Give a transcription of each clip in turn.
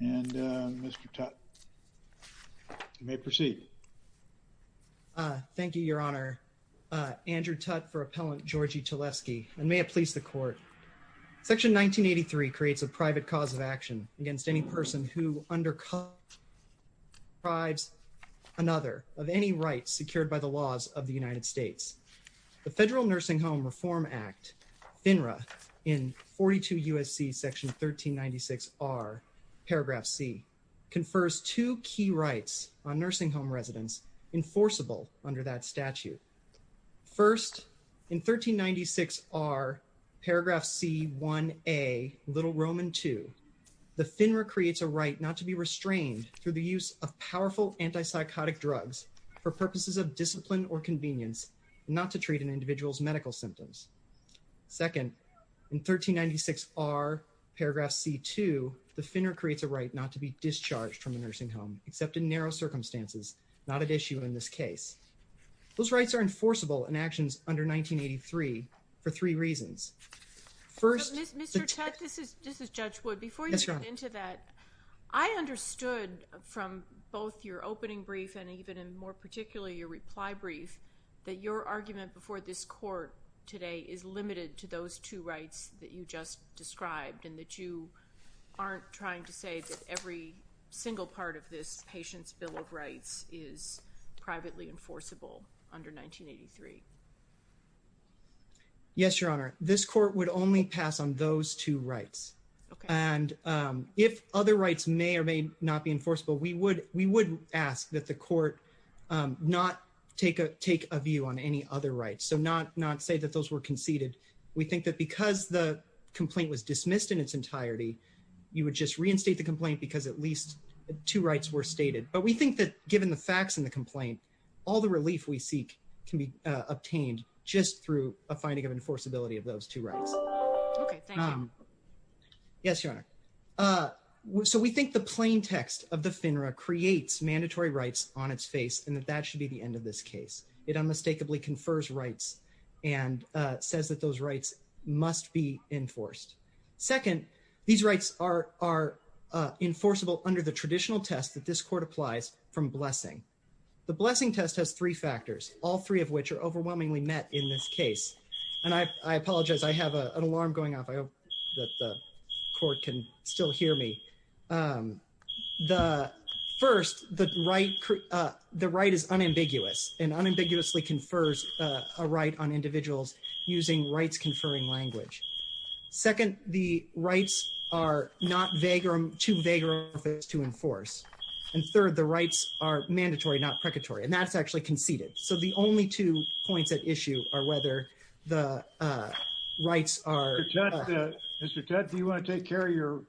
and Mr. Tutte. You may proceed. Thank you, Your Honor. Andrew Tutte for Appellant Gorgi Talevski, and may it please the Court. Section 1983 creates a private cause of action against any person who undercuts or deprives another of any rights secured by the laws of the United States. The Federal Nursing Home Reform Act, FINRA, in 42 U.S.C. section 1396R, paragraph C, confers two key rights on nursing home residents enforceable under that statute. First, in 1396R, paragraph C1A, Little Roman II, the FINRA creates a right not to be restrained through the use of powerful antipsychotic drugs for purposes of discipline or convenience, not to treat an individual's medical symptoms. Second, in 1396R, paragraph C2, the FINRA creates a right not to be discharged from a nursing home, except in narrow circumstances, not at issue in this case. Those rights are enforceable in actions under 1983 for three reasons. First, Mr. Tutte, this is Judge Wood. Before you get into that, I understood from both your opening brief and even more particularly your reply brief that your argument before this Court today is limited to those two rights that you just described and that you aren't trying to say that every single part of this patient's Bill of Rights is privately enforceable under 1983. Yes, Your Honor. This Court would only pass on those two rights. And if other rights may or may not be enforceable, we would ask that the Court not take a view on any other rights, so not say that those were conceded. We think that because the complaint was dismissed in its entirety, you would just reinstate the complaint because at least two rights were stated. But we think that given the facts in the complaint, all the relief we seek can be obtained just through a finding of enforceability of those two rights. Okay, thank you. Yes, Your Honor. So we think the plain text of the FINRA creates mandatory rights on its face and that that should be the end of this case. It unmistakably confers rights and says that those rights must be enforced. Second, these rights are enforceable under the traditional test that this Court applies from blessing. The blessing test has three factors, all three of which are overwhelmingly met in this case. And I apologize, I have an alarm going off. I hope that the Court can still hear me. First, the right is unambiguous and unambiguously confers a right on individuals using rights conferring language. Second, the rights are not too vague to enforce. And third, the rights are mandatory, not precarious. And that's actually conceded. So the only two points at issue are whether the rights are... Mr. Tutt, do you want to take care of your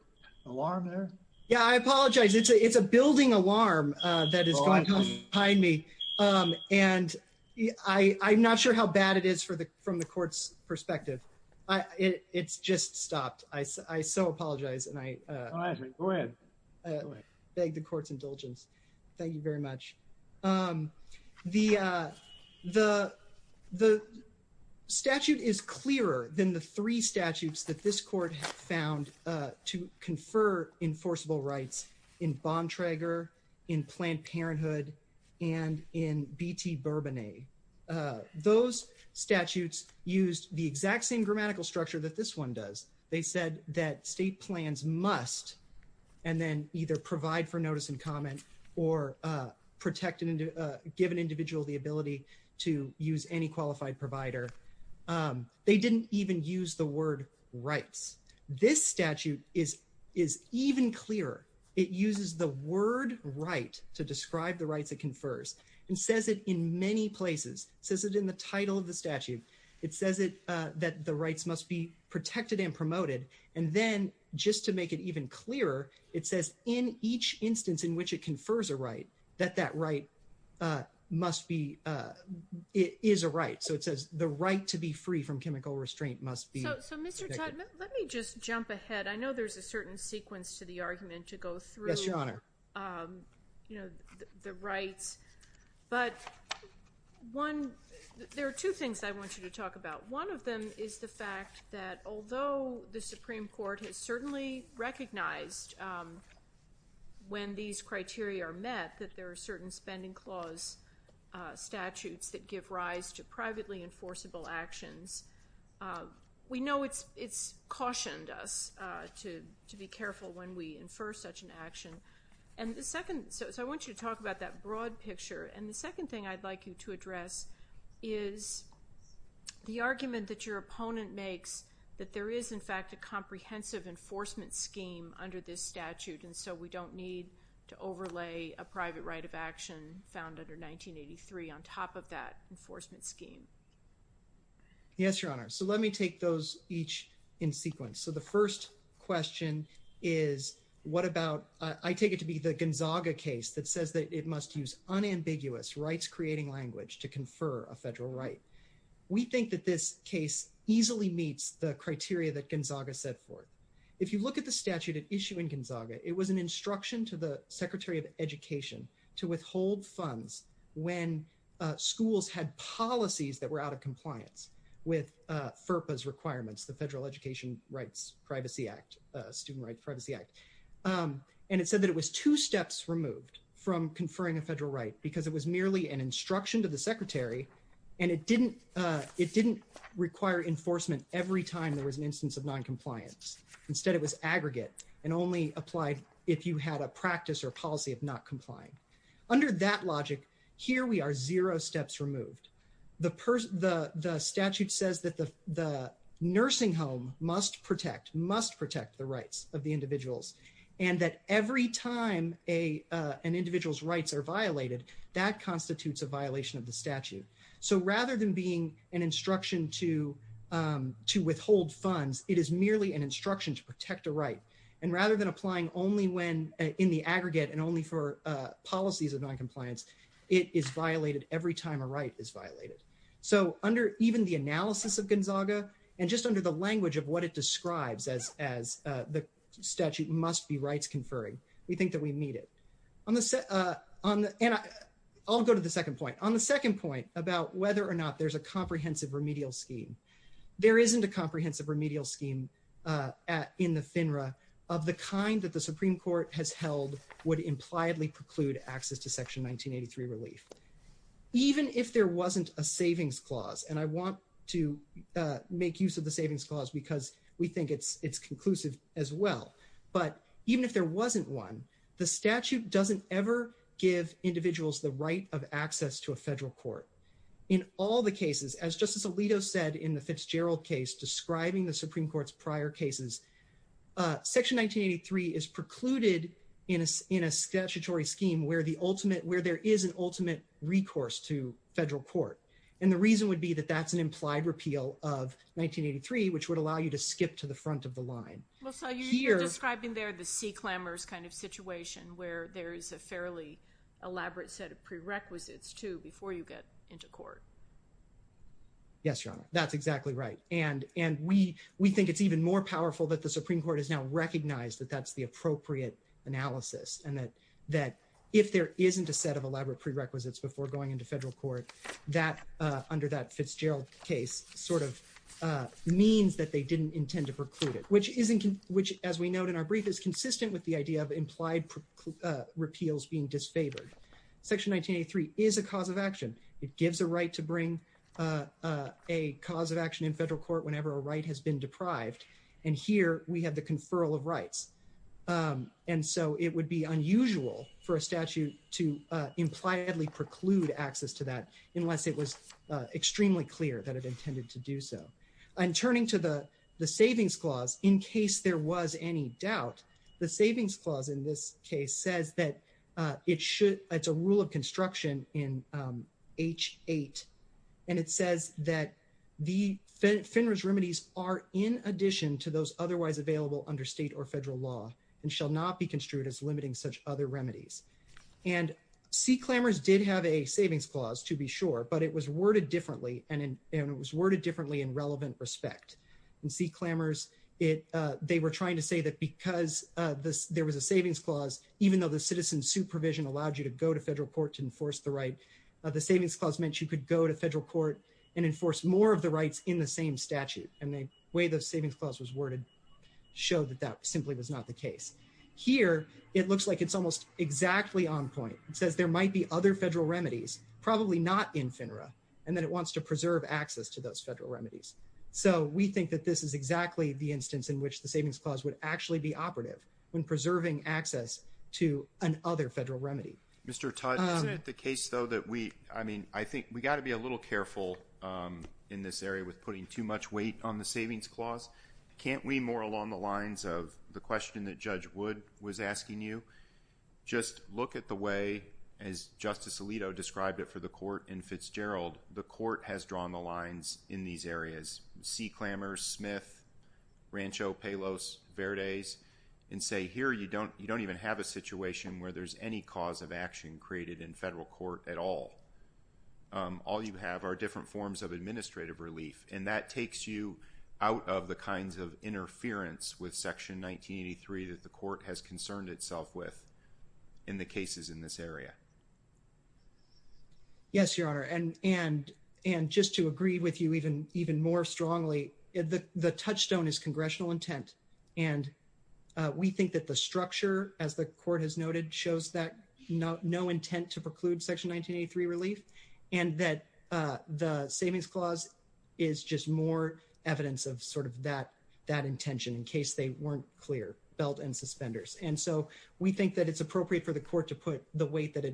alarm there? Yeah, I apologize. It's a building alarm that is going on behind me. And I'm not sure how bad it is from the Court's perspective. It's just stopped. I so apologize. Go ahead. I beg the Court's indulgence. Thank you very much. The statute is clearer than the three statutes that this Court has found to confer enforceable rights in Bontrager, in Planned Parenthood, and in B.T. Bourbonnet. Those statutes used the exact same grammatical structure that this one does. They said that state plans must and then either provide for notice and comment or give an individual the ability to use any qualified provider. They didn't even use the word rights. This statute is even clearer. It uses the word right to describe the rights it confers. It says it in many places. It says it in the title of the statute. It says that the rights must be protected and promoted. And then, just to make it even clearer, it says in each instance in which it confers a right that that right is a right. So it says the right to be free from chemical restraint must be protected. So Mr. Tutt, let me just jump ahead. I know there's a certain sequence to the argument to go through the rights. But there are two things I want you to talk about. One of them is the fact that although the Supreme Court has certainly recognized when these criteria are met that there are certain spending clause statutes that give rise to privately enforceable actions, we know it's cautioned us to be careful when we infer such an action. So I want you to talk about that broad picture. And the second thing I'd like you to address is the argument that your opponent makes that there is, in fact, a comprehensive enforcement scheme under this statute. And so we don't need to overlay a private right of action found under 1983 on top of that enforcement scheme. Yes, Your Honor. So let me take those each in sequence. So the first question is what about, I take it to be the Gonzaga case that says that it must use unambiguous rights-creating language to confer a federal right. We think that this case easily meets the criteria that Gonzaga set forth. If you look at the statute at issue in Gonzaga, it was an instruction to the Secretary of Education to withhold funds when schools had policies that were out of compliance with FERPA's requirements, the Federal Education Rights Privacy Act, Student Rights Privacy Act. And it said that it was two steps removed from conferring a federal right because it was merely an instruction to the Secretary, and it didn't require enforcement every time there was an instance of noncompliance. Instead, it was aggregate and only applied if you had a practice or policy of not complying. Under that logic, here we are zero steps removed. The statute says that the nursing home must protect, must protect the rights of the individuals, and that every time an individual's rights are violated, that constitutes a violation of the statute. So rather than being an instruction to protect a right, and rather than applying only when in the aggregate and only for policies of noncompliance, it is violated every time a right is violated. So under even the analysis of Gonzaga and just under the language of what it describes as the statute must be rights conferring, we think that we meet it. And I'll go to the second point. On the second point about whether or not there's a comprehensive remedial scheme, there isn't a comprehensive remedial scheme in the FINRA of the kind that the Supreme Court has held would impliedly preclude access to Section 1983 relief. Even if there wasn't a savings clause, and I want to make use of the savings clause because we think it's conclusive as well, but even if there wasn't one, the statute doesn't ever give individuals the right of access to a federal court. In all the cases, as Justice Alito said in the Fitzgerald case describing the Supreme Court's prior cases, Section 1983 is precluded in a statutory scheme where the ultimate, where there is an ultimate recourse to federal court. And the reason would be that that's an implied repeal of 1983, which would allow you to skip to the front of the line. Well, so you're describing there the sea clamors kind of situation where there is a fairly elaborate set of prerequisites too before you get into court. Yes, Your Honor. That's exactly right. And we think it's even more powerful that the Supreme Court has now recognized that that's the appropriate analysis and that if there isn't a set of elaborate prerequisites before going into federal court, that under that Fitzgerald case sort of means that they didn't intend to preclude it, which as we note in our brief is consistent with the idea of implied repeals being disfavored. Section 1983 is a cause of action. It gives a right to bring a cause of action in federal court whenever a right has been deprived. And here we have the conferral of rights. And so it would be unusual for a statute to impliedly preclude access to that unless it was extremely clear that it intended to do so. And turning to the savings clause, in case there was any doubt, the savings clause in this case says that it should, it's a clause, it says that it should not be construed as limiting such other remedies. And C. Clamors did have a savings clause to be sure, but it was worded differently and it was worded differently in relevant respect. In C. Clamors, they were trying to say that because there was a savings clause, even though the citizen's supervision allowed you to go to federal court to enforce the right, the savings clause meant you could go to federal court and enforce more of the rights in the same statute. And the way the savings clause was worded showed that that simply was not the case. Here, it looks like it's almost exactly on point. It says there might be other federal remedies, probably not in FINRA, and then it wants to preserve access to those federal remedies. So we think that this is exactly the instance in which the savings clause would actually be operative when preserving access to an other federal remedy. Mr. Tudge, isn't it the case, though, that we, I mean, I think we got to be a little careful in this area with putting too much weight on the savings clause. Can't we more along the lines of the question that Judge Wood was asking you? Just look at the way, as Justice Alito described it for the court in Fitzgerald, the court has drawn the lines in these areas. C. Clamors, Smith, Rancho, Pelos, Verdes, and say here you don't even have a situation where there's any cause of action created in federal court at all. All you have are different forms of administrative relief, and that takes you out of the kinds of interference with Section 1983 that the court has concerned itself with in the cases in this area. Yes, Your Honor, and just to agree with you even more strongly, the touchstone is congressional intent, and we think that the structure, as the court has noted, shows that no intent to preclude Section 1983 relief, and that the savings clause is just more evidence of sort of that intention in case they weren't clear, belt and suspenders. And so we think that it's appropriate for the court to put the weight that persuasive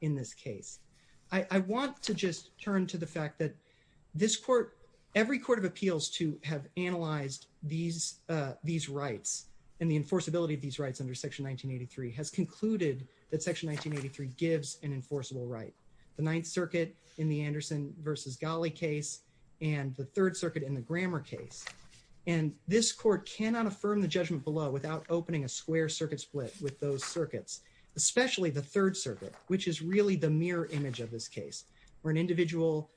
in this case. I want to just turn to the fact that this court, every court of appeals to have analyzed these rights and the enforceability of these rights under Section 1983 has concluded that Section 1983 gives an enforceable right. The Ninth Circuit in the Anderson versus Ghali case, and the Third Circuit in the Grammer case, and this court cannot affirm the judgment below without opening a square circuit split with those circuits, especially the Third Circuit, which is really the mirror image of this case, where an individual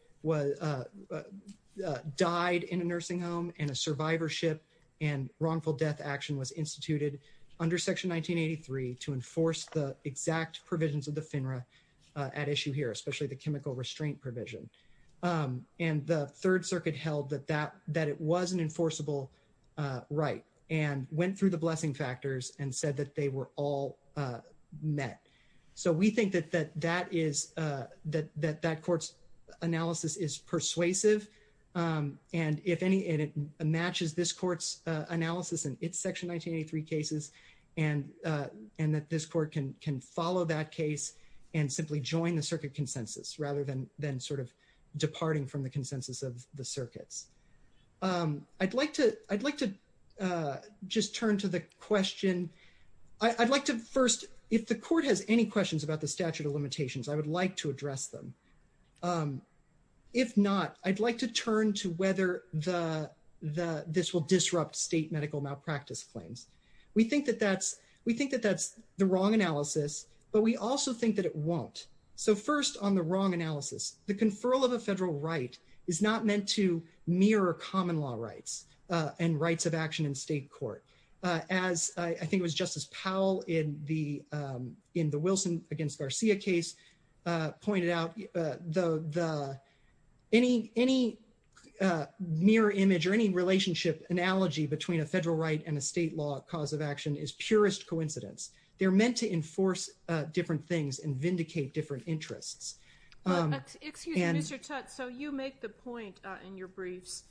died in a nursing home and a survivorship and wrongful death action was instituted under Section 1983 to enforce the exact provisions of the FINRA at issue here, especially the chemical restraint provision. And the Third Circuit held that it was an enforceable right and went through the blessing factors and said that they were all met. So we think that that court's analysis is persuasive and it matches this court's analysis in its Section 1983 cases and that this court can follow that case and simply join the circuit consensus rather than sort of departing from the consensus of the circuits. I'd like to just turn to the question. I'd like to first, if the court has any questions about the statute of limitations, I would like to address them. If not, I'd like to turn to whether this will disrupt state medical malpractice claims. We think that that's the wrong analysis, but we also think that it won't. So first on the wrong analysis, the conferral of a federal right is not meant to mirror common law rights and rights of action in state court. As I think it was Justice Powell in the Wilson against Garcia case pointed out, any mirror image or any relationship analogy between a federal right and a state law cause of action is purest they're meant to enforce different things and vindicate different interests. Excuse me, Mr. Tutte. So you make the point in your briefs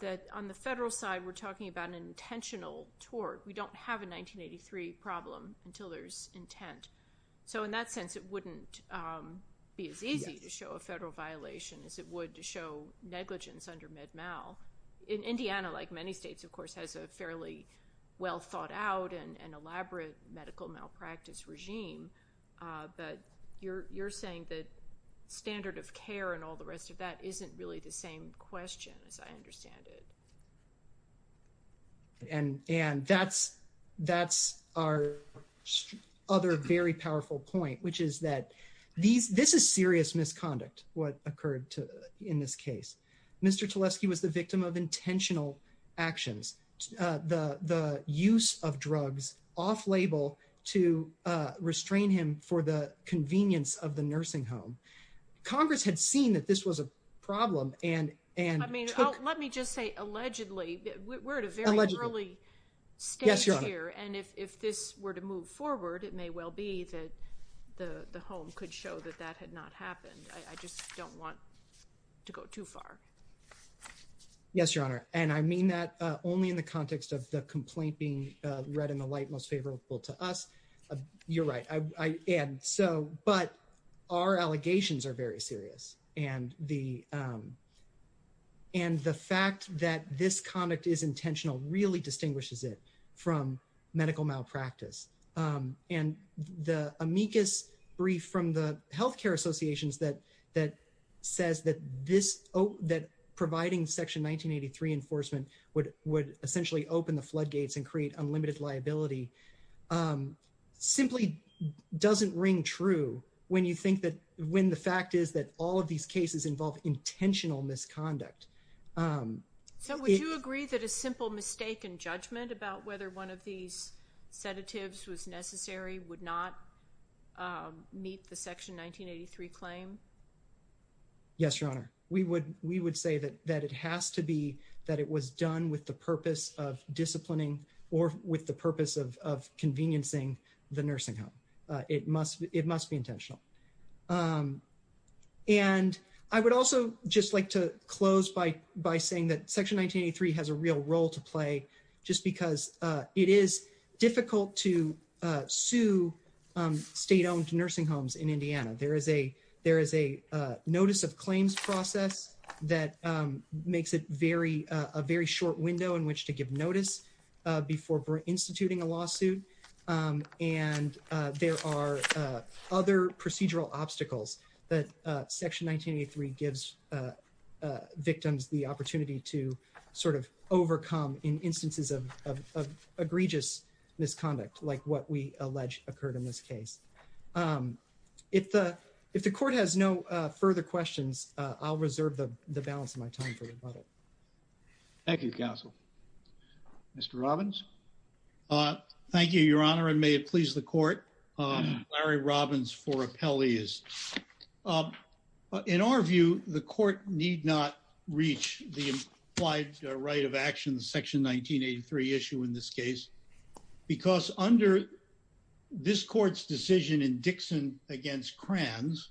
that on the federal side, we're talking about an intentional tort. We don't have a 1983 problem until there's intent. So in that sense, it wouldn't be as easy to show a federal violation as it would to show negligence under In Indiana, like many states, of course, has a fairly well thought out and elaborate medical malpractice regime. But you're saying that standard of care and all the rest of that isn't really the same question as I understand it. And that's our other very powerful point, which is that this is serious misconduct, what occurred in this case. Mr. Tulesky was the victim of intentional actions, the use of drugs off-label to restrain him for the convenience of the nursing home. Congress had seen that this was a problem and- I mean, let me just say, allegedly, we're at a very early stage here. And if this were to move forward, it may well be that the home could show that that had not happened. I just don't want to go too far. Yes, Your Honor. And I mean that only in the context of the complaint being read in the light most favorable to us. You're right. And so, but our allegations are very serious. And the fact that this conduct is intentional really distinguishes it from medical malpractice. And the amicus brief from the healthcare associations that says that providing Section 1983 enforcement would essentially open the floodgates and create unlimited liability simply doesn't ring true when the fact is that all of these cases involve intentional misconduct. So would you agree that a simple mistake in judgment about whether one of these sedatives was necessary would not meet the Section 1983 claim? Yes, Your Honor. We would say that it has to be that it was done with the purpose of disciplining or with the purpose of conveniencing the nursing home. It must be intentional. And I would also just like to close by saying that Section 1983 has a real role to play just because it is difficult to sue state-owned nursing homes in Indiana. There is a notice of claims process that makes it a very short window in which to give notice before instituting a lawsuit. And there are other procedural obstacles that Section 1983 gives victims the opportunity to overcome in instances of egregious misconduct like what we allege occurred in this case. If the Court has no further questions, I'll reserve the balance of my time for rebuttal. Thank you, counsel. Mr. Robbins? Thank you, Your Honor, and may it please the Court. Larry Robbins for appellees. In our view, the Court need not reach the implied right of action, the Section 1983 issue in this case, because under this Court's decision in Dixon v. Kranz,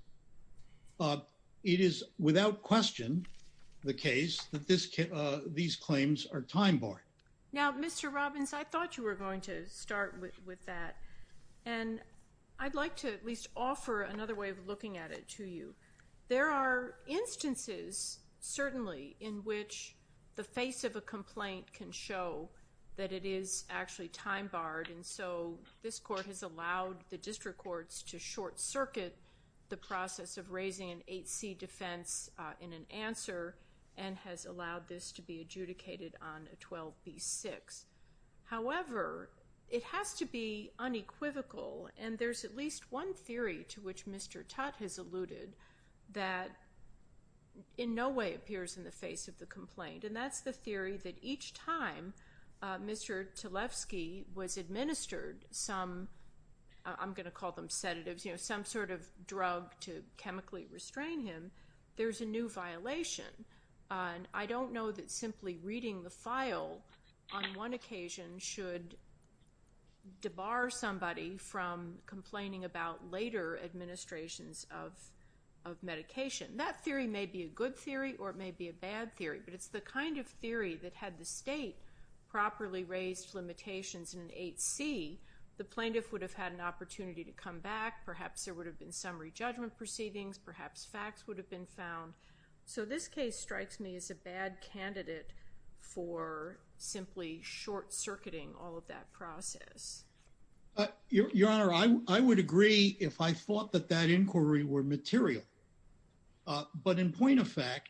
it is without question the case that these claims are time-barred. Now, Mr. Robbins, I thought you were going to look at it, too, you. There are instances, certainly, in which the face of a complaint can show that it is actually time-barred, and so this Court has allowed the district courts to short-circuit the process of raising an 8C defense in an answer and has allowed this to be adjudicated on a 12B6. However, it has to be unequivocal, and there's at least one theory to which Mr. Tutte has alluded that in no way appears in the face of the complaint, and that's the theory that each time Mr. Tlefsky was administered some, I'm going to call them sedatives, you know, some sort of drug to chemically restrain him, there's a new violation. And I don't know that simply reading the file on one occasion should debar somebody from complaining about later administrations of medication. That theory may be a good theory or it may be a bad theory, but it's the kind of theory that had the State properly raised limitations in an 8C, the plaintiff would have had an opportunity to come back, perhaps there would have been summary judgment proceedings, perhaps facts would have been found. So this case strikes me as a bad candidate for simply short-circuiting all of that process. Your Honor, I would agree if I thought that that inquiry were material, but in point of fact,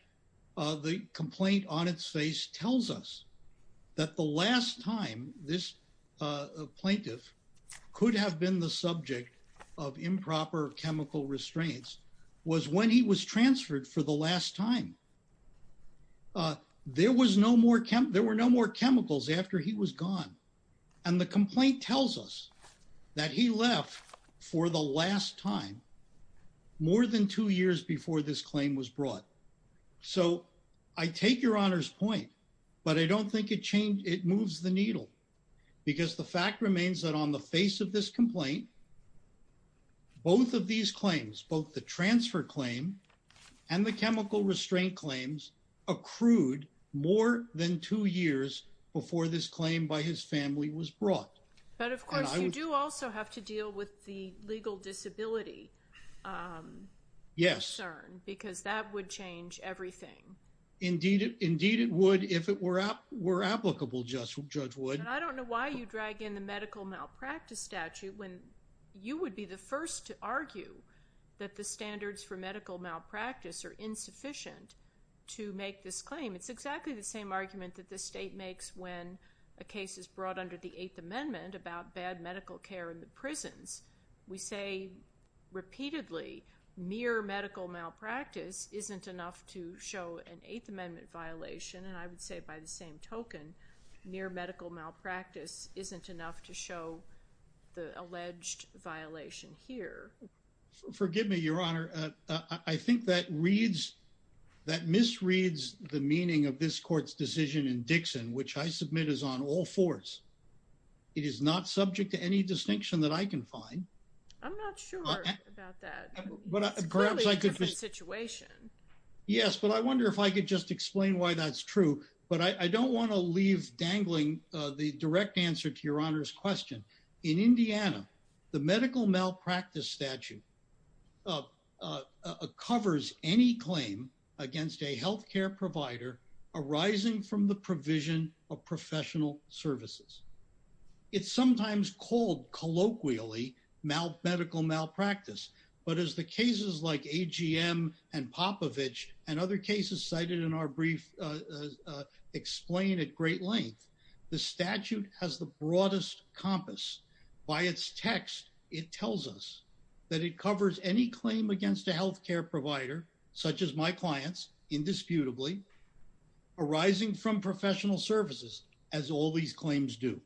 the complaint on its face tells us that the last time this plaintiff could have been the subject of improper chemical restraints was when he was transferred for the last time. There were no more chemicals after he was gone. And the complaint tells us that he left for the last time more than two years before this claim was brought. So I take Your Honor's point, but I don't think it moves the needle because the fact remains that on the face of this complaint, both of these claims, both the transfer claim and the chemical restraint claims accrued more than two years before this claim by his family was brought. But of course, you do also have to were applicable, Judge Wood. But I don't know why you drag in the medical malpractice statute when you would be the first to argue that the standards for medical malpractice are insufficient to make this claim. It's exactly the same argument that the state makes when a case is brought under the Eighth Amendment about bad medical care in the prisons. We say repeatedly, mere medical malpractice isn't enough to show an Eighth Amendment violation. And I would say by the same token, mere medical malpractice isn't enough to show the alleged violation here. Forgive me, Your Honor. I think that misreads the meaning of this court's decision in Dixon, which I submit is on all fours. It is not subject to any distinction that I can find. I'm not sure about that situation. Yes. But I wonder if I could just explain why that's true. But I don't want to leave dangling the direct answer to Your Honor's question. In Indiana, the medical malpractice statute covers any claim against a health care provider arising from the provision of professional services. It's sometimes called colloquially medical malpractice. But as the cases like AGM and Popovich and other cases cited in our brief explain at great length, the statute has the broadest compass. By its text, it tells us that it covers any claim against a health care provider, such as my clients, indisputably, arising from professional services, as all these claims do.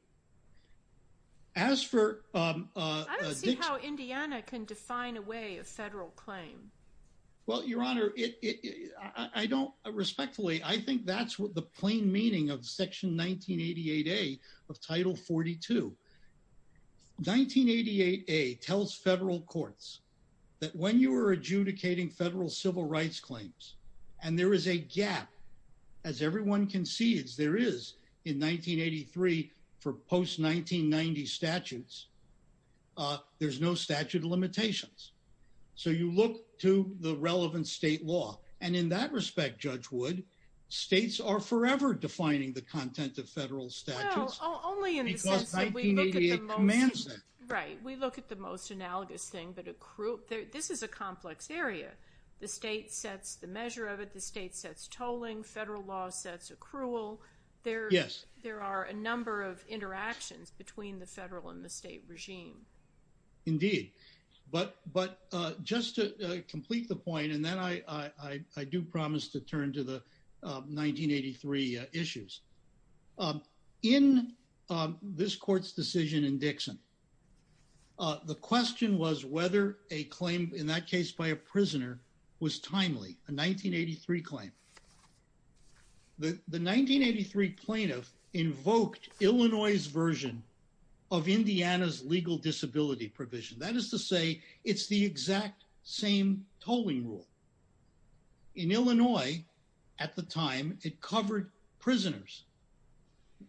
As for... I don't see how Indiana can define a way of federal claim. Well, Your Honor, I don't. Respectfully, I think that's what the plain meaning of Section 1988A of Title 42. 1988A tells federal courts that when you are adjudicating federal civil rights claims, and there is a gap, as everyone concedes there is in 1983 for post-1990 statutes, there's no statute of limitations. So you look to the relevant state law. And in that respect, Judge Wood, states are forever defining the content of federal statutes. Well, only in the sense that we look at the most... Right. We look at the most analogous thing. But this is a complex area. The state sets the measure of it. The state sets tolling. Federal law sets accrual. There are a number of interactions between the federal and the state regime. Indeed. But just to complete the point, and then I do promise to turn to the 1983 issues. In this court's decision in Dixon, the question was whether a claim, in that case by a prisoner, was timely. A 1983 claim. The 1983 plaintiff invoked Illinois' version of Indiana's legal disability provision. That is to say, in Illinois, at the time, it covered prisoners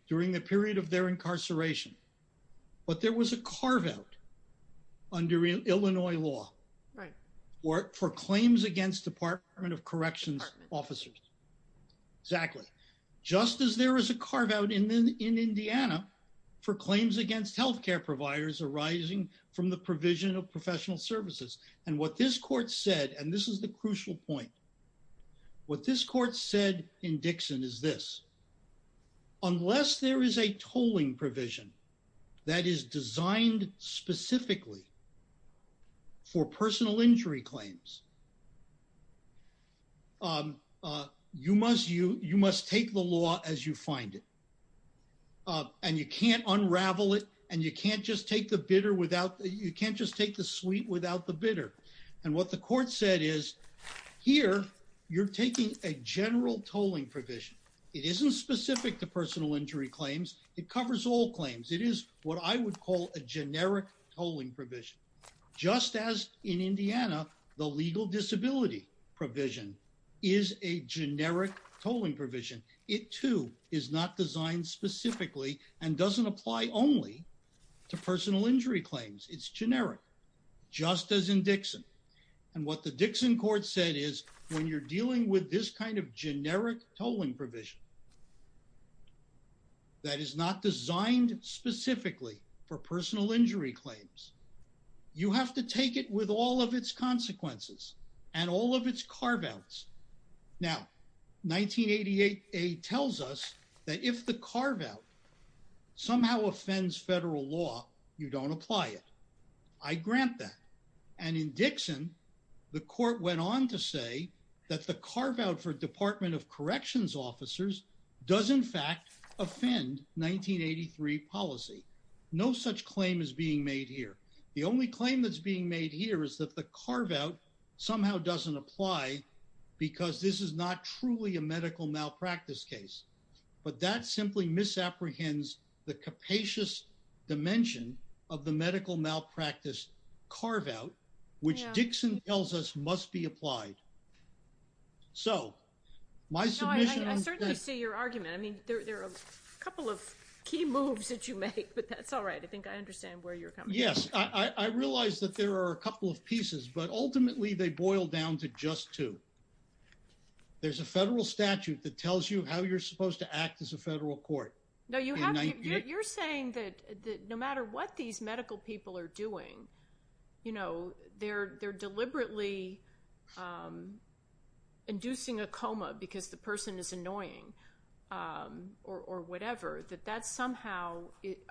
during the period of their incarceration. But there was a carve-out under Illinois law for claims against Department of Corrections officers. Exactly. Just as there was a carve-out in Indiana for claims against healthcare providers arising from the provision of professional services. And what this court said, and this is the crucial point. What this court said in Dixon is this. Unless there is a tolling provision that is designed specifically for personal injury claims, you must take the law as you find it. And you can't unravel it. And you can't just take the sweet without the bitter. And what the court said is, here, you're taking a general tolling provision. It isn't specific to personal injury claims. It covers all claims. It is what I would call a generic tolling provision. Just as in Indiana, the legal disability provision is a generic tolling provision. It, too, is not designed specifically and doesn't apply only to personal injury claims. It's generic. Just as in Dixon. And what the Dixon court said is, when you're dealing with this kind of generic tolling provision that is not designed specifically for personal injury claims, you have to take it with all of its consequences and all of its carve-outs. Now, 1988a tells us that if the carve-out somehow offends federal law, you don't apply it. I grant that. And in Dixon, the court went on to say that the carve-out for Department of Corrections officers does, in fact, offend 1983 policy. No such claim is being made here. The only claim that's being made here is that the carve-out somehow doesn't apply because this is not truly a medical malpractice case. But that simply misapprehends the capacious dimension of the medical malpractice carve-out, which Dixon tells us must be applied. So, my submission... No, I certainly see your argument. I mean, there are a couple of key moves that you make, but that's all right. I think I understand where you're coming from. Yes, I realize that there are a couple of pieces, but ultimately they boil down to just two. There's a federal statute that tells you how you're supposed to act as a federal court. No, you're saying that no matter what these medical people are doing, you know, they're deliberately inducing a coma because the person is annoying or whatever, that that somehow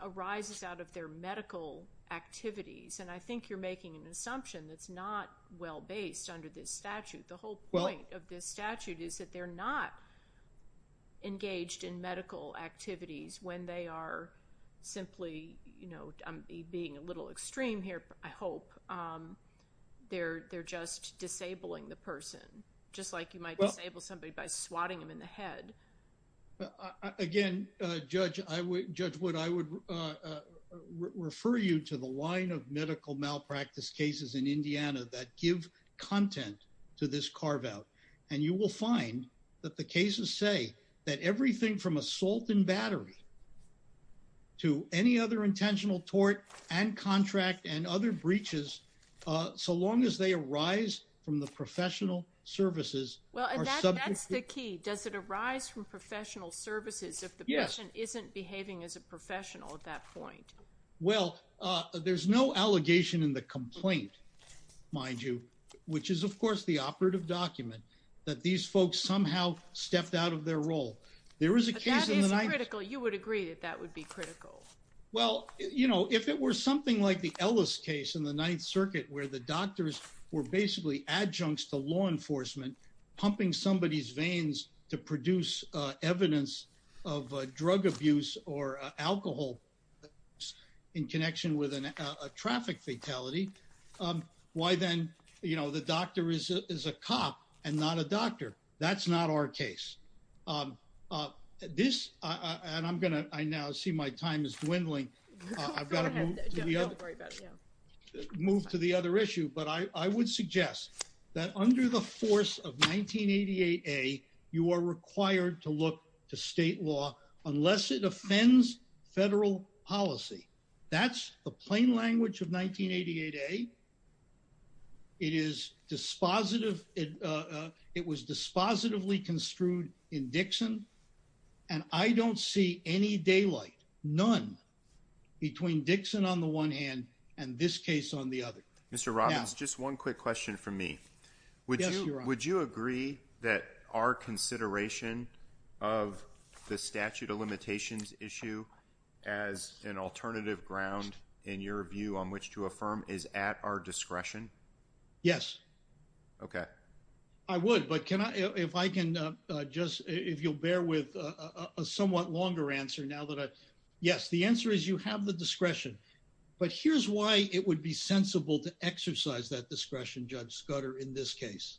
arises out of their medical activities. And I think you're making an assumption that's not well-based under this statute. The whole point of this statute is that they're not engaged in medical activities when they are simply, you know, I'm being a little extreme here, but I hope they're just disabling the person, just like you might disable somebody by swatting them in the head. Again, Judge Wood, I would refer you to the line of medical malpractice cases in Indiana that give content to this carve-out. And you will find that the cases say that everything from assault and battery to any other intentional tort and contract and other breaches, so long as they arise from the professional services... And that's the key. Does it arise from professional services if the person isn't behaving as a professional at that point? Well, there's no allegation in the complaint, mind you, which is, of course, the operative document that these folks somehow stepped out of their role. There is a case in the Ninth... That is critical. You would agree that that would be critical. Well, you know, if it were something like the Ellis case in the Ninth Circuit where the doctors were basically adjuncts to law enforcement pumping somebody's veins to produce evidence of drug abuse or alcohol in connection with a traffic fatality, why then, you know, the doctor is a cop and not a doctor? That's not our case. This... And I'm gonna... I now see my time is I would suggest that under the force of 1988-A, you are required to look to state law unless it offends federal policy. That's the plain language of 1988-A. It is dispositive... It was dispositively construed in Dixon, and I don't see any daylight, none, between Dixon on the one hand and this case on the other. Mr. Robbins, just one quick question from me. Yes, Your Honor. Would you agree that our consideration of the statute of limitations issue as an alternative ground, in your view, on which to affirm is at our discretion? Yes. Okay. I would, but can I... If I can just... If you'll bear with a somewhat longer answer now that I... Yes, the answer is you have the sensible to exercise that discretion, Judge Scudder, in this case.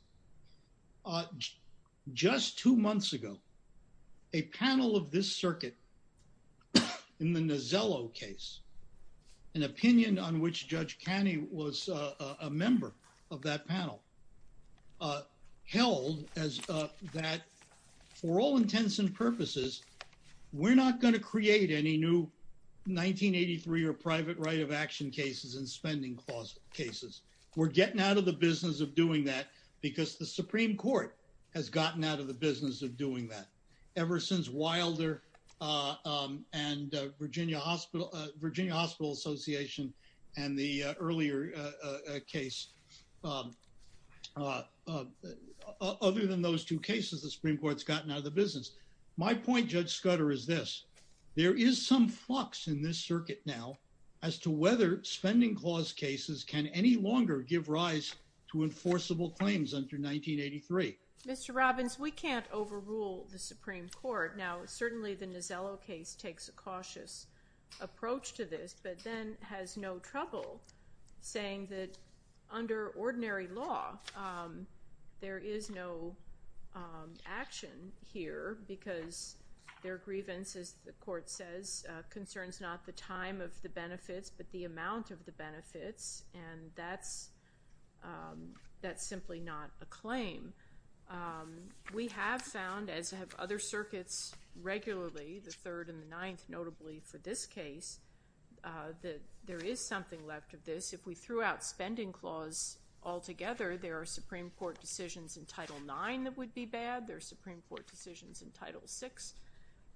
Just two months ago, a panel of this circuit in the Nozzello case, an opinion on which Judge Caney was a member of that panel, held as that for all intents and purposes, we're not going to create any new 1983 or private right of action cases and spending clause cases. We're getting out of the business of doing that because the Supreme Court has gotten out of the business of doing that ever since Wilder and Virginia Hospital Association and the earlier case. Other than those two cases, the Supreme Court's gotten out of the business. My point, Judge Scudder, is this. There is some flux in this circuit now as to whether spending clause cases can any longer give rise to enforceable claims under 1983. Mr. Robbins, we can't overrule the Supreme Court. Now, certainly the Nozzello case takes a cautious approach to this but then has no trouble saying that under ordinary law, there is no action here because their grievance, as the court says, concerns not the time of the benefits but the amount of the benefits and that's simply not a claim. We have found, as have other circuits regularly, the there is something left of this. If we threw out spending clause altogether, there are Supreme Court decisions in Title IX that would be bad. There are Supreme Court decisions in Title VI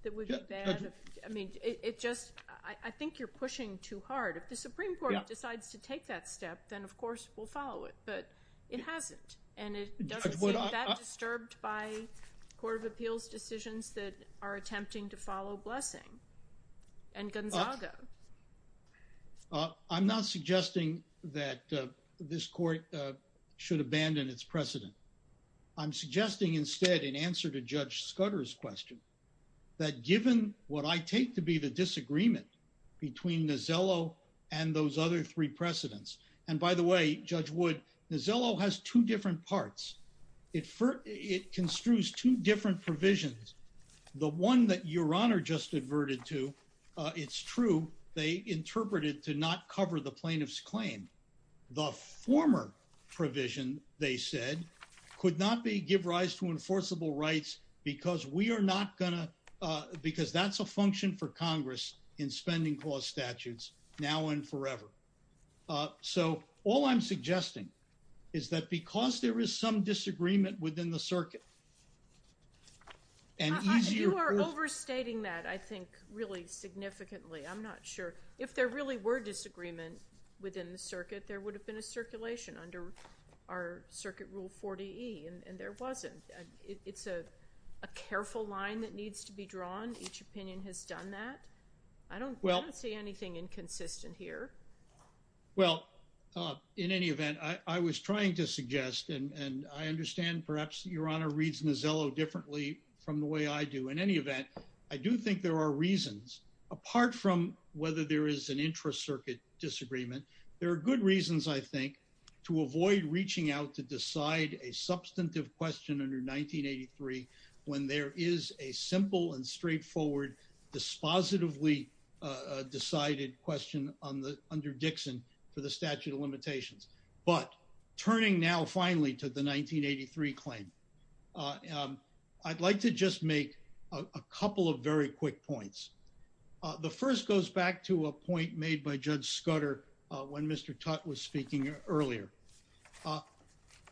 that would be bad. I think you're pushing too hard. If the Supreme Court decides to take that step, then, of course, we'll follow it but it hasn't and it doesn't seem that disturbed by Court of Appeals decisions that are attempting to follow Blessing and Gonzaga. I'm not suggesting that this court should abandon its precedent. I'm suggesting instead in answer to Judge Scudder's question that given what I take to be the disagreement between Nozzello and those other three precedents and by the way, Judge Wood, Nozzello has two different parts. It construes two different provisions. The one that Your Honor just adverted to, it's true, they interpreted to not cover the plaintiff's claim. The former provision, they said, could not give rise to enforceable rights because that's a function for Congress in spending clause statutes now and forever. So, all I'm suggesting is that because there is some disagreement within the circuit and easier... You are overstating that, I think, really significantly. I'm not sure. If there really were disagreement within the circuit, there would have been a circulation under our Circuit Rule 40E and there wasn't. It's a careful line that needs to be drawn. Each consistent here. Well, in any event, I was trying to suggest and I understand perhaps Your Honor reads Nozzello differently from the way I do. In any event, I do think there are reasons apart from whether there is an intra-circuit disagreement. There are good reasons, I think, to avoid reaching out to decide a substantive question under 1983 when there is a simple and question under Dixon for the statute of limitations. But turning now finally to the 1983 claim, I'd like to just make a couple of very quick points. The first goes back to a point made by Judge Scudder when Mr. Tutte was speaking earlier.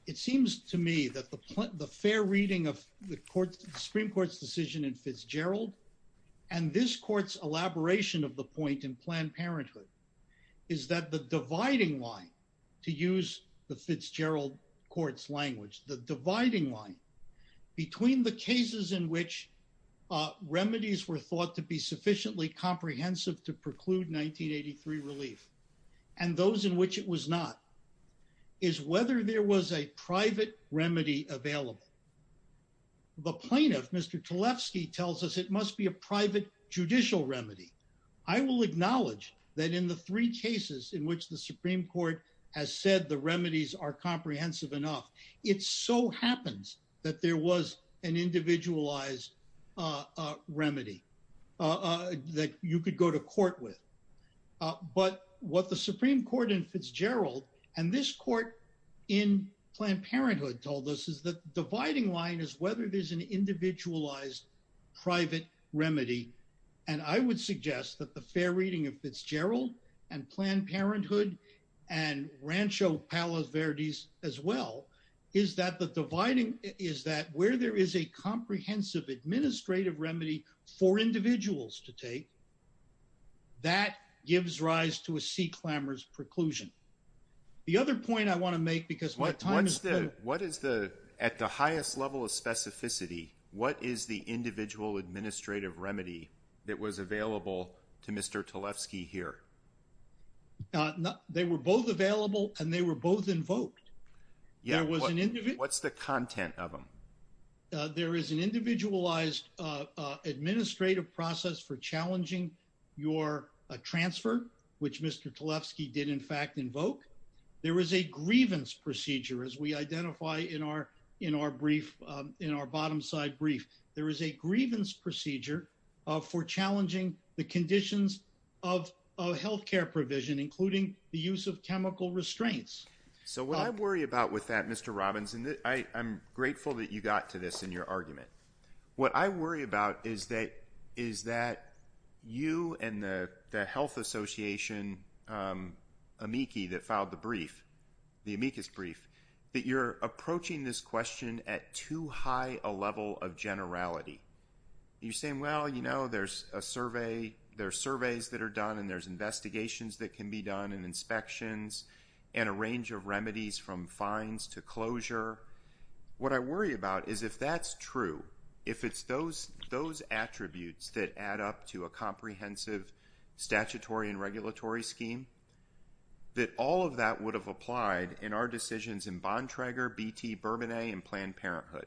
It seems to me that the fair reading of the Supreme Court's decision in Fitzgerald and this Court's elaboration of the point in Planned Parenthood is that the dividing line, to use the Fitzgerald Court's language, the dividing line between the cases in which remedies were thought to be sufficiently comprehensive to preclude 1983 relief and those in which it was not is whether there was a private remedy available. The plaintiff, Mr. Tlefsky, tells us it must be a private judicial remedy. I will acknowledge that in the three cases in which the Supreme Court has said the remedies are comprehensive enough, it so happens that there was an individualized remedy that you could go to court with. But what the Supreme Court in Fitzgerald and this Court in Planned Parenthood told us is the dividing line is whether there's an individualized private remedy, and I would suggest that the fair reading of Fitzgerald and Planned Parenthood and Rancho Palos Verdes as well is that the dividing is that where there is a comprehensive administrative remedy for individuals to take, that gives rise to a sea-clamor's preclusion. The other point I want to make because what is the, at the highest level of specificity, what is the individual administrative remedy that was available to Mr. Tlefsky here? They were both available and they were both invoked. Yeah, what's the content of them? There is an individualized administrative process for as we identify in our brief, in our bottom side brief. There is a grievance procedure for challenging the conditions of health care provision, including the use of chemical restraints. So what I worry about with that, Mr. Robbins, and I'm grateful that you got to this in your argument. What I worry about is that you and the health association, amici that filed the brief, the amicus brief, that you're approaching this question at too high a level of generality. You're saying, well, you know, there's a survey, there's surveys that are done and there's investigations that can be done and inspections and a range of remedies from fines to closure. What I worry about is if that's true, if it's those attributes that add up to a scheme, that all of that would have applied in our decisions in Bontrager, BT, Bourbonnais, and Planned Parenthood.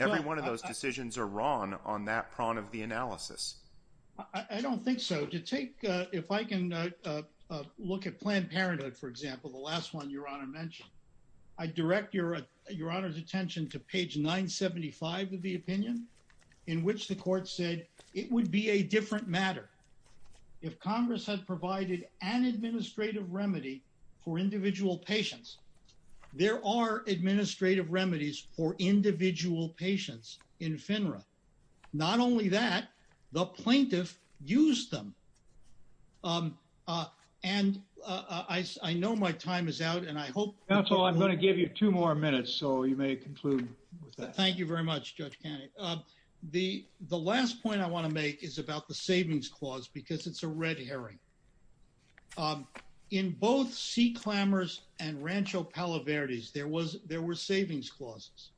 Every one of those decisions are wrong on that prong of the analysis. I don't think so. To take, if I can look at Planned Parenthood, for example, the last one your honor mentioned, I direct your honor's attention to page 975 of the opinion in which the court said it would be a different matter if Congress had provided an administrative remedy for individual patients. There are administrative remedies for individual patients in FINRA. Not only that, the plaintiff used them. And I know my time is out and I hope... Counsel, I'm going to give you two more minutes so you may conclude with that. Thank you very much, Judge Canning. The last point I want to make is about the savings clause, because it's a red herring. In both C. clamors and Rancho Palo Verdes, there were savings clauses.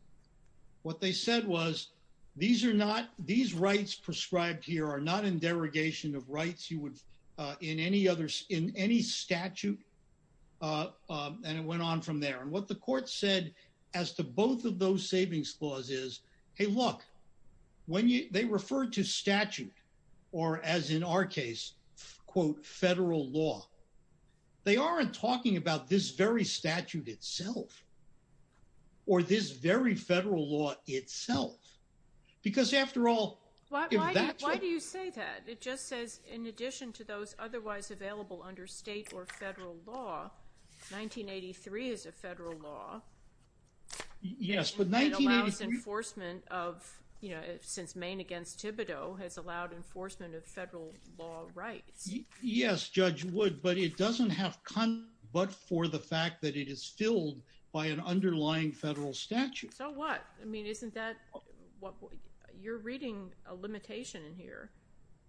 What they said was, these are not, these rights prescribed here are not in derogation of rights you would in any other, in any statute, and it went on from there. And what the court said as to both of those savings clauses is, hey look, when you, they refer to statute, or as in our case, quote, federal law. They aren't talking about this very statute itself, or this very federal law itself, because after all... Why do you say that? It just says, in addition to those otherwise available under state or federal law, 1983 is a federal law. Yes, but 1983... It allows enforcement of, you know, since Maine against Thibodeau has allowed enforcement of federal law rights. Yes, Judge Wood, but it doesn't have content but for the fact that it is filled by an underlying federal statute. So what? I mean, isn't that what, you're reading a limitation in here.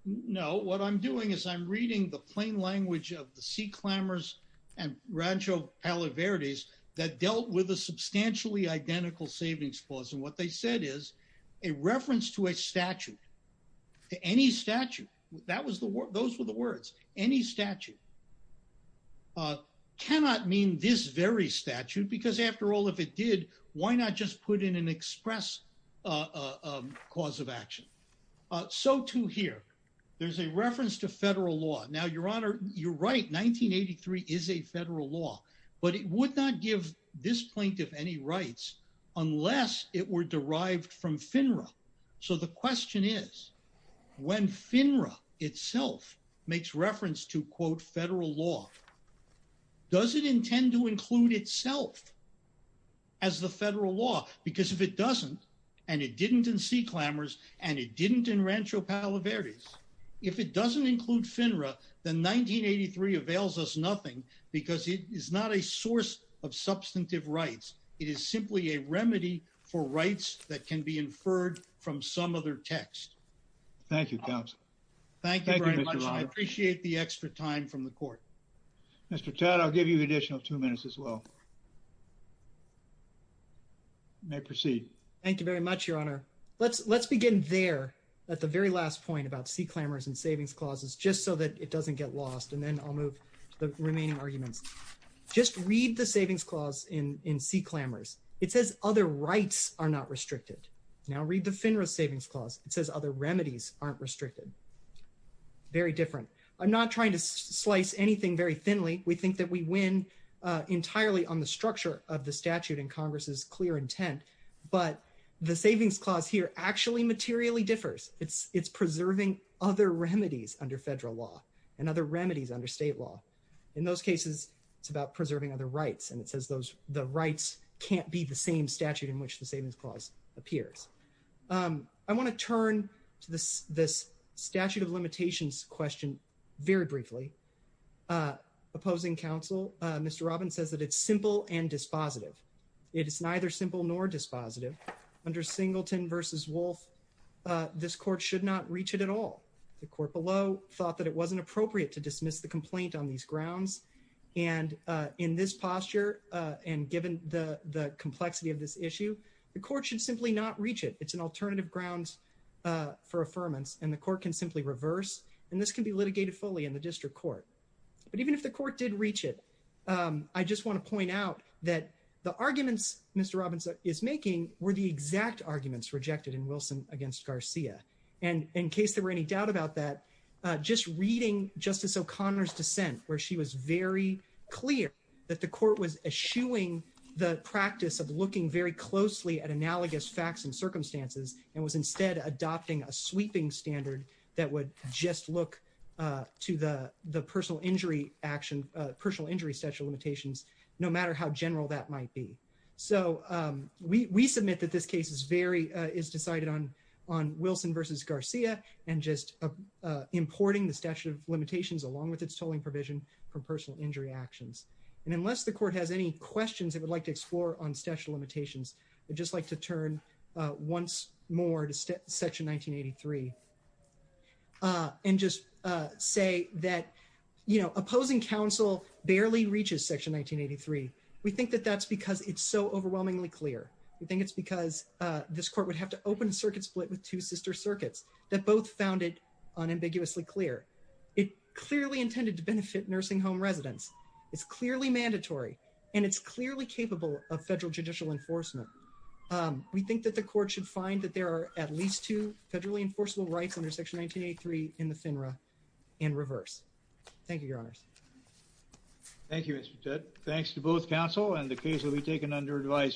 No, what I'm doing is I'm reading the plain language of the Sea Clambers and Rancho Palo Verdes that dealt with a substantially identical savings clause. And what they said is, a reference to a statute, to any statute, that was the word, those were the words, any statute, cannot mean this very statute, because after all, if it did, why not just put in an express cause of action? So too here, there's a reference to federal law. Now, Your Honor, you're right, 1983 is a federal law, but it would not give this plaintiff any rights unless it were derived from FINRA. So the question is, when FINRA itself makes reference to, quote, federal law, does it intend to include itself as the federal law? Because if it doesn't, and it didn't in Sea Clambers, and it didn't in Rancho Palo Verdes, if it doesn't include FINRA, then 1983 avails us nothing because it is not a source of substantive rights. It is simply a remedy for rights that can be inferred from some other text. Thank you, counsel. Thank you very much. I'm going to give you two more minutes, and then I'm going to turn it over to Mr. Tadd. Mr. Tadd, I'll give you an extra time from the court. Mr. Tadd, I'll give you an additional two minutes as well. You may proceed. Thank you very much, Your Honor. Let's begin there at the very last point about Sea Clambers and savings clauses, just so that it doesn't get lost, and then I'll move to the remaining arguments. Just read the savings clause in Sea Clambers. It says other rights are not restricted. Now read the FINRA savings clause. It says other remedies aren't restricted. Very different. I'm not trying to slice anything very thinly. We think that we win entirely on the structure of the statute and Congress's clear intent, but the savings clause here actually materially differs. It's preserving other remedies under federal law and other remedies under state law. In those cases, it's about preserving other rights, and it says the rights can't be the same statute in which the savings clause appears. I want to turn to this statute of limitations question very briefly. Opposing counsel, Mr. Robbins says that it's simple and dispositive. It is neither simple nor dispositive. Under Singleton v. Wolf, this court should not reach it at all. The court below thought that it wasn't appropriate to dismiss the complaint on these grounds, and in this posture and given the complexity of this issue, the court should simply not reach it. It's an alternative grounds for affirmance, and the court can simply reverse, and this can be litigated fully in the district court. But even if the court did reach it, I just want to point out that the arguments Mr. Robbins is making were the exact arguments rejected in Wilson v. Garcia, and in case there any doubt about that, just reading Justice O'Connor's dissent where she was very clear that the court was eschewing the practice of looking very closely at analogous facts and circumstances and was instead adopting a sweeping standard that would just look to the personal injury action, personal injury statute of limitations, no matter how general that might be. So we submit that this case is decided on Wilson v. Garcia and just importing the statute of limitations along with its tolling provision from personal injury actions. And unless the court has any questions it would like to explore on statute of limitations, I'd just like to turn once more to section 1983 and just say that, you know, opposing counsel barely reaches section 1983. We think that that's it's so overwhelmingly clear. We think it's because this court would have to open a circuit split with two sister circuits that both found it unambiguously clear. It clearly intended to benefit nursing home residents. It's clearly mandatory and it's clearly capable of federal judicial enforcement. We think that the court should find that there are at least two federally enforceable rights under section 1983 in the FINRA in reverse. Thank you, your honors. Thank you, Mr. Chet. Thanks to both counsel and the case will be taken under advisory.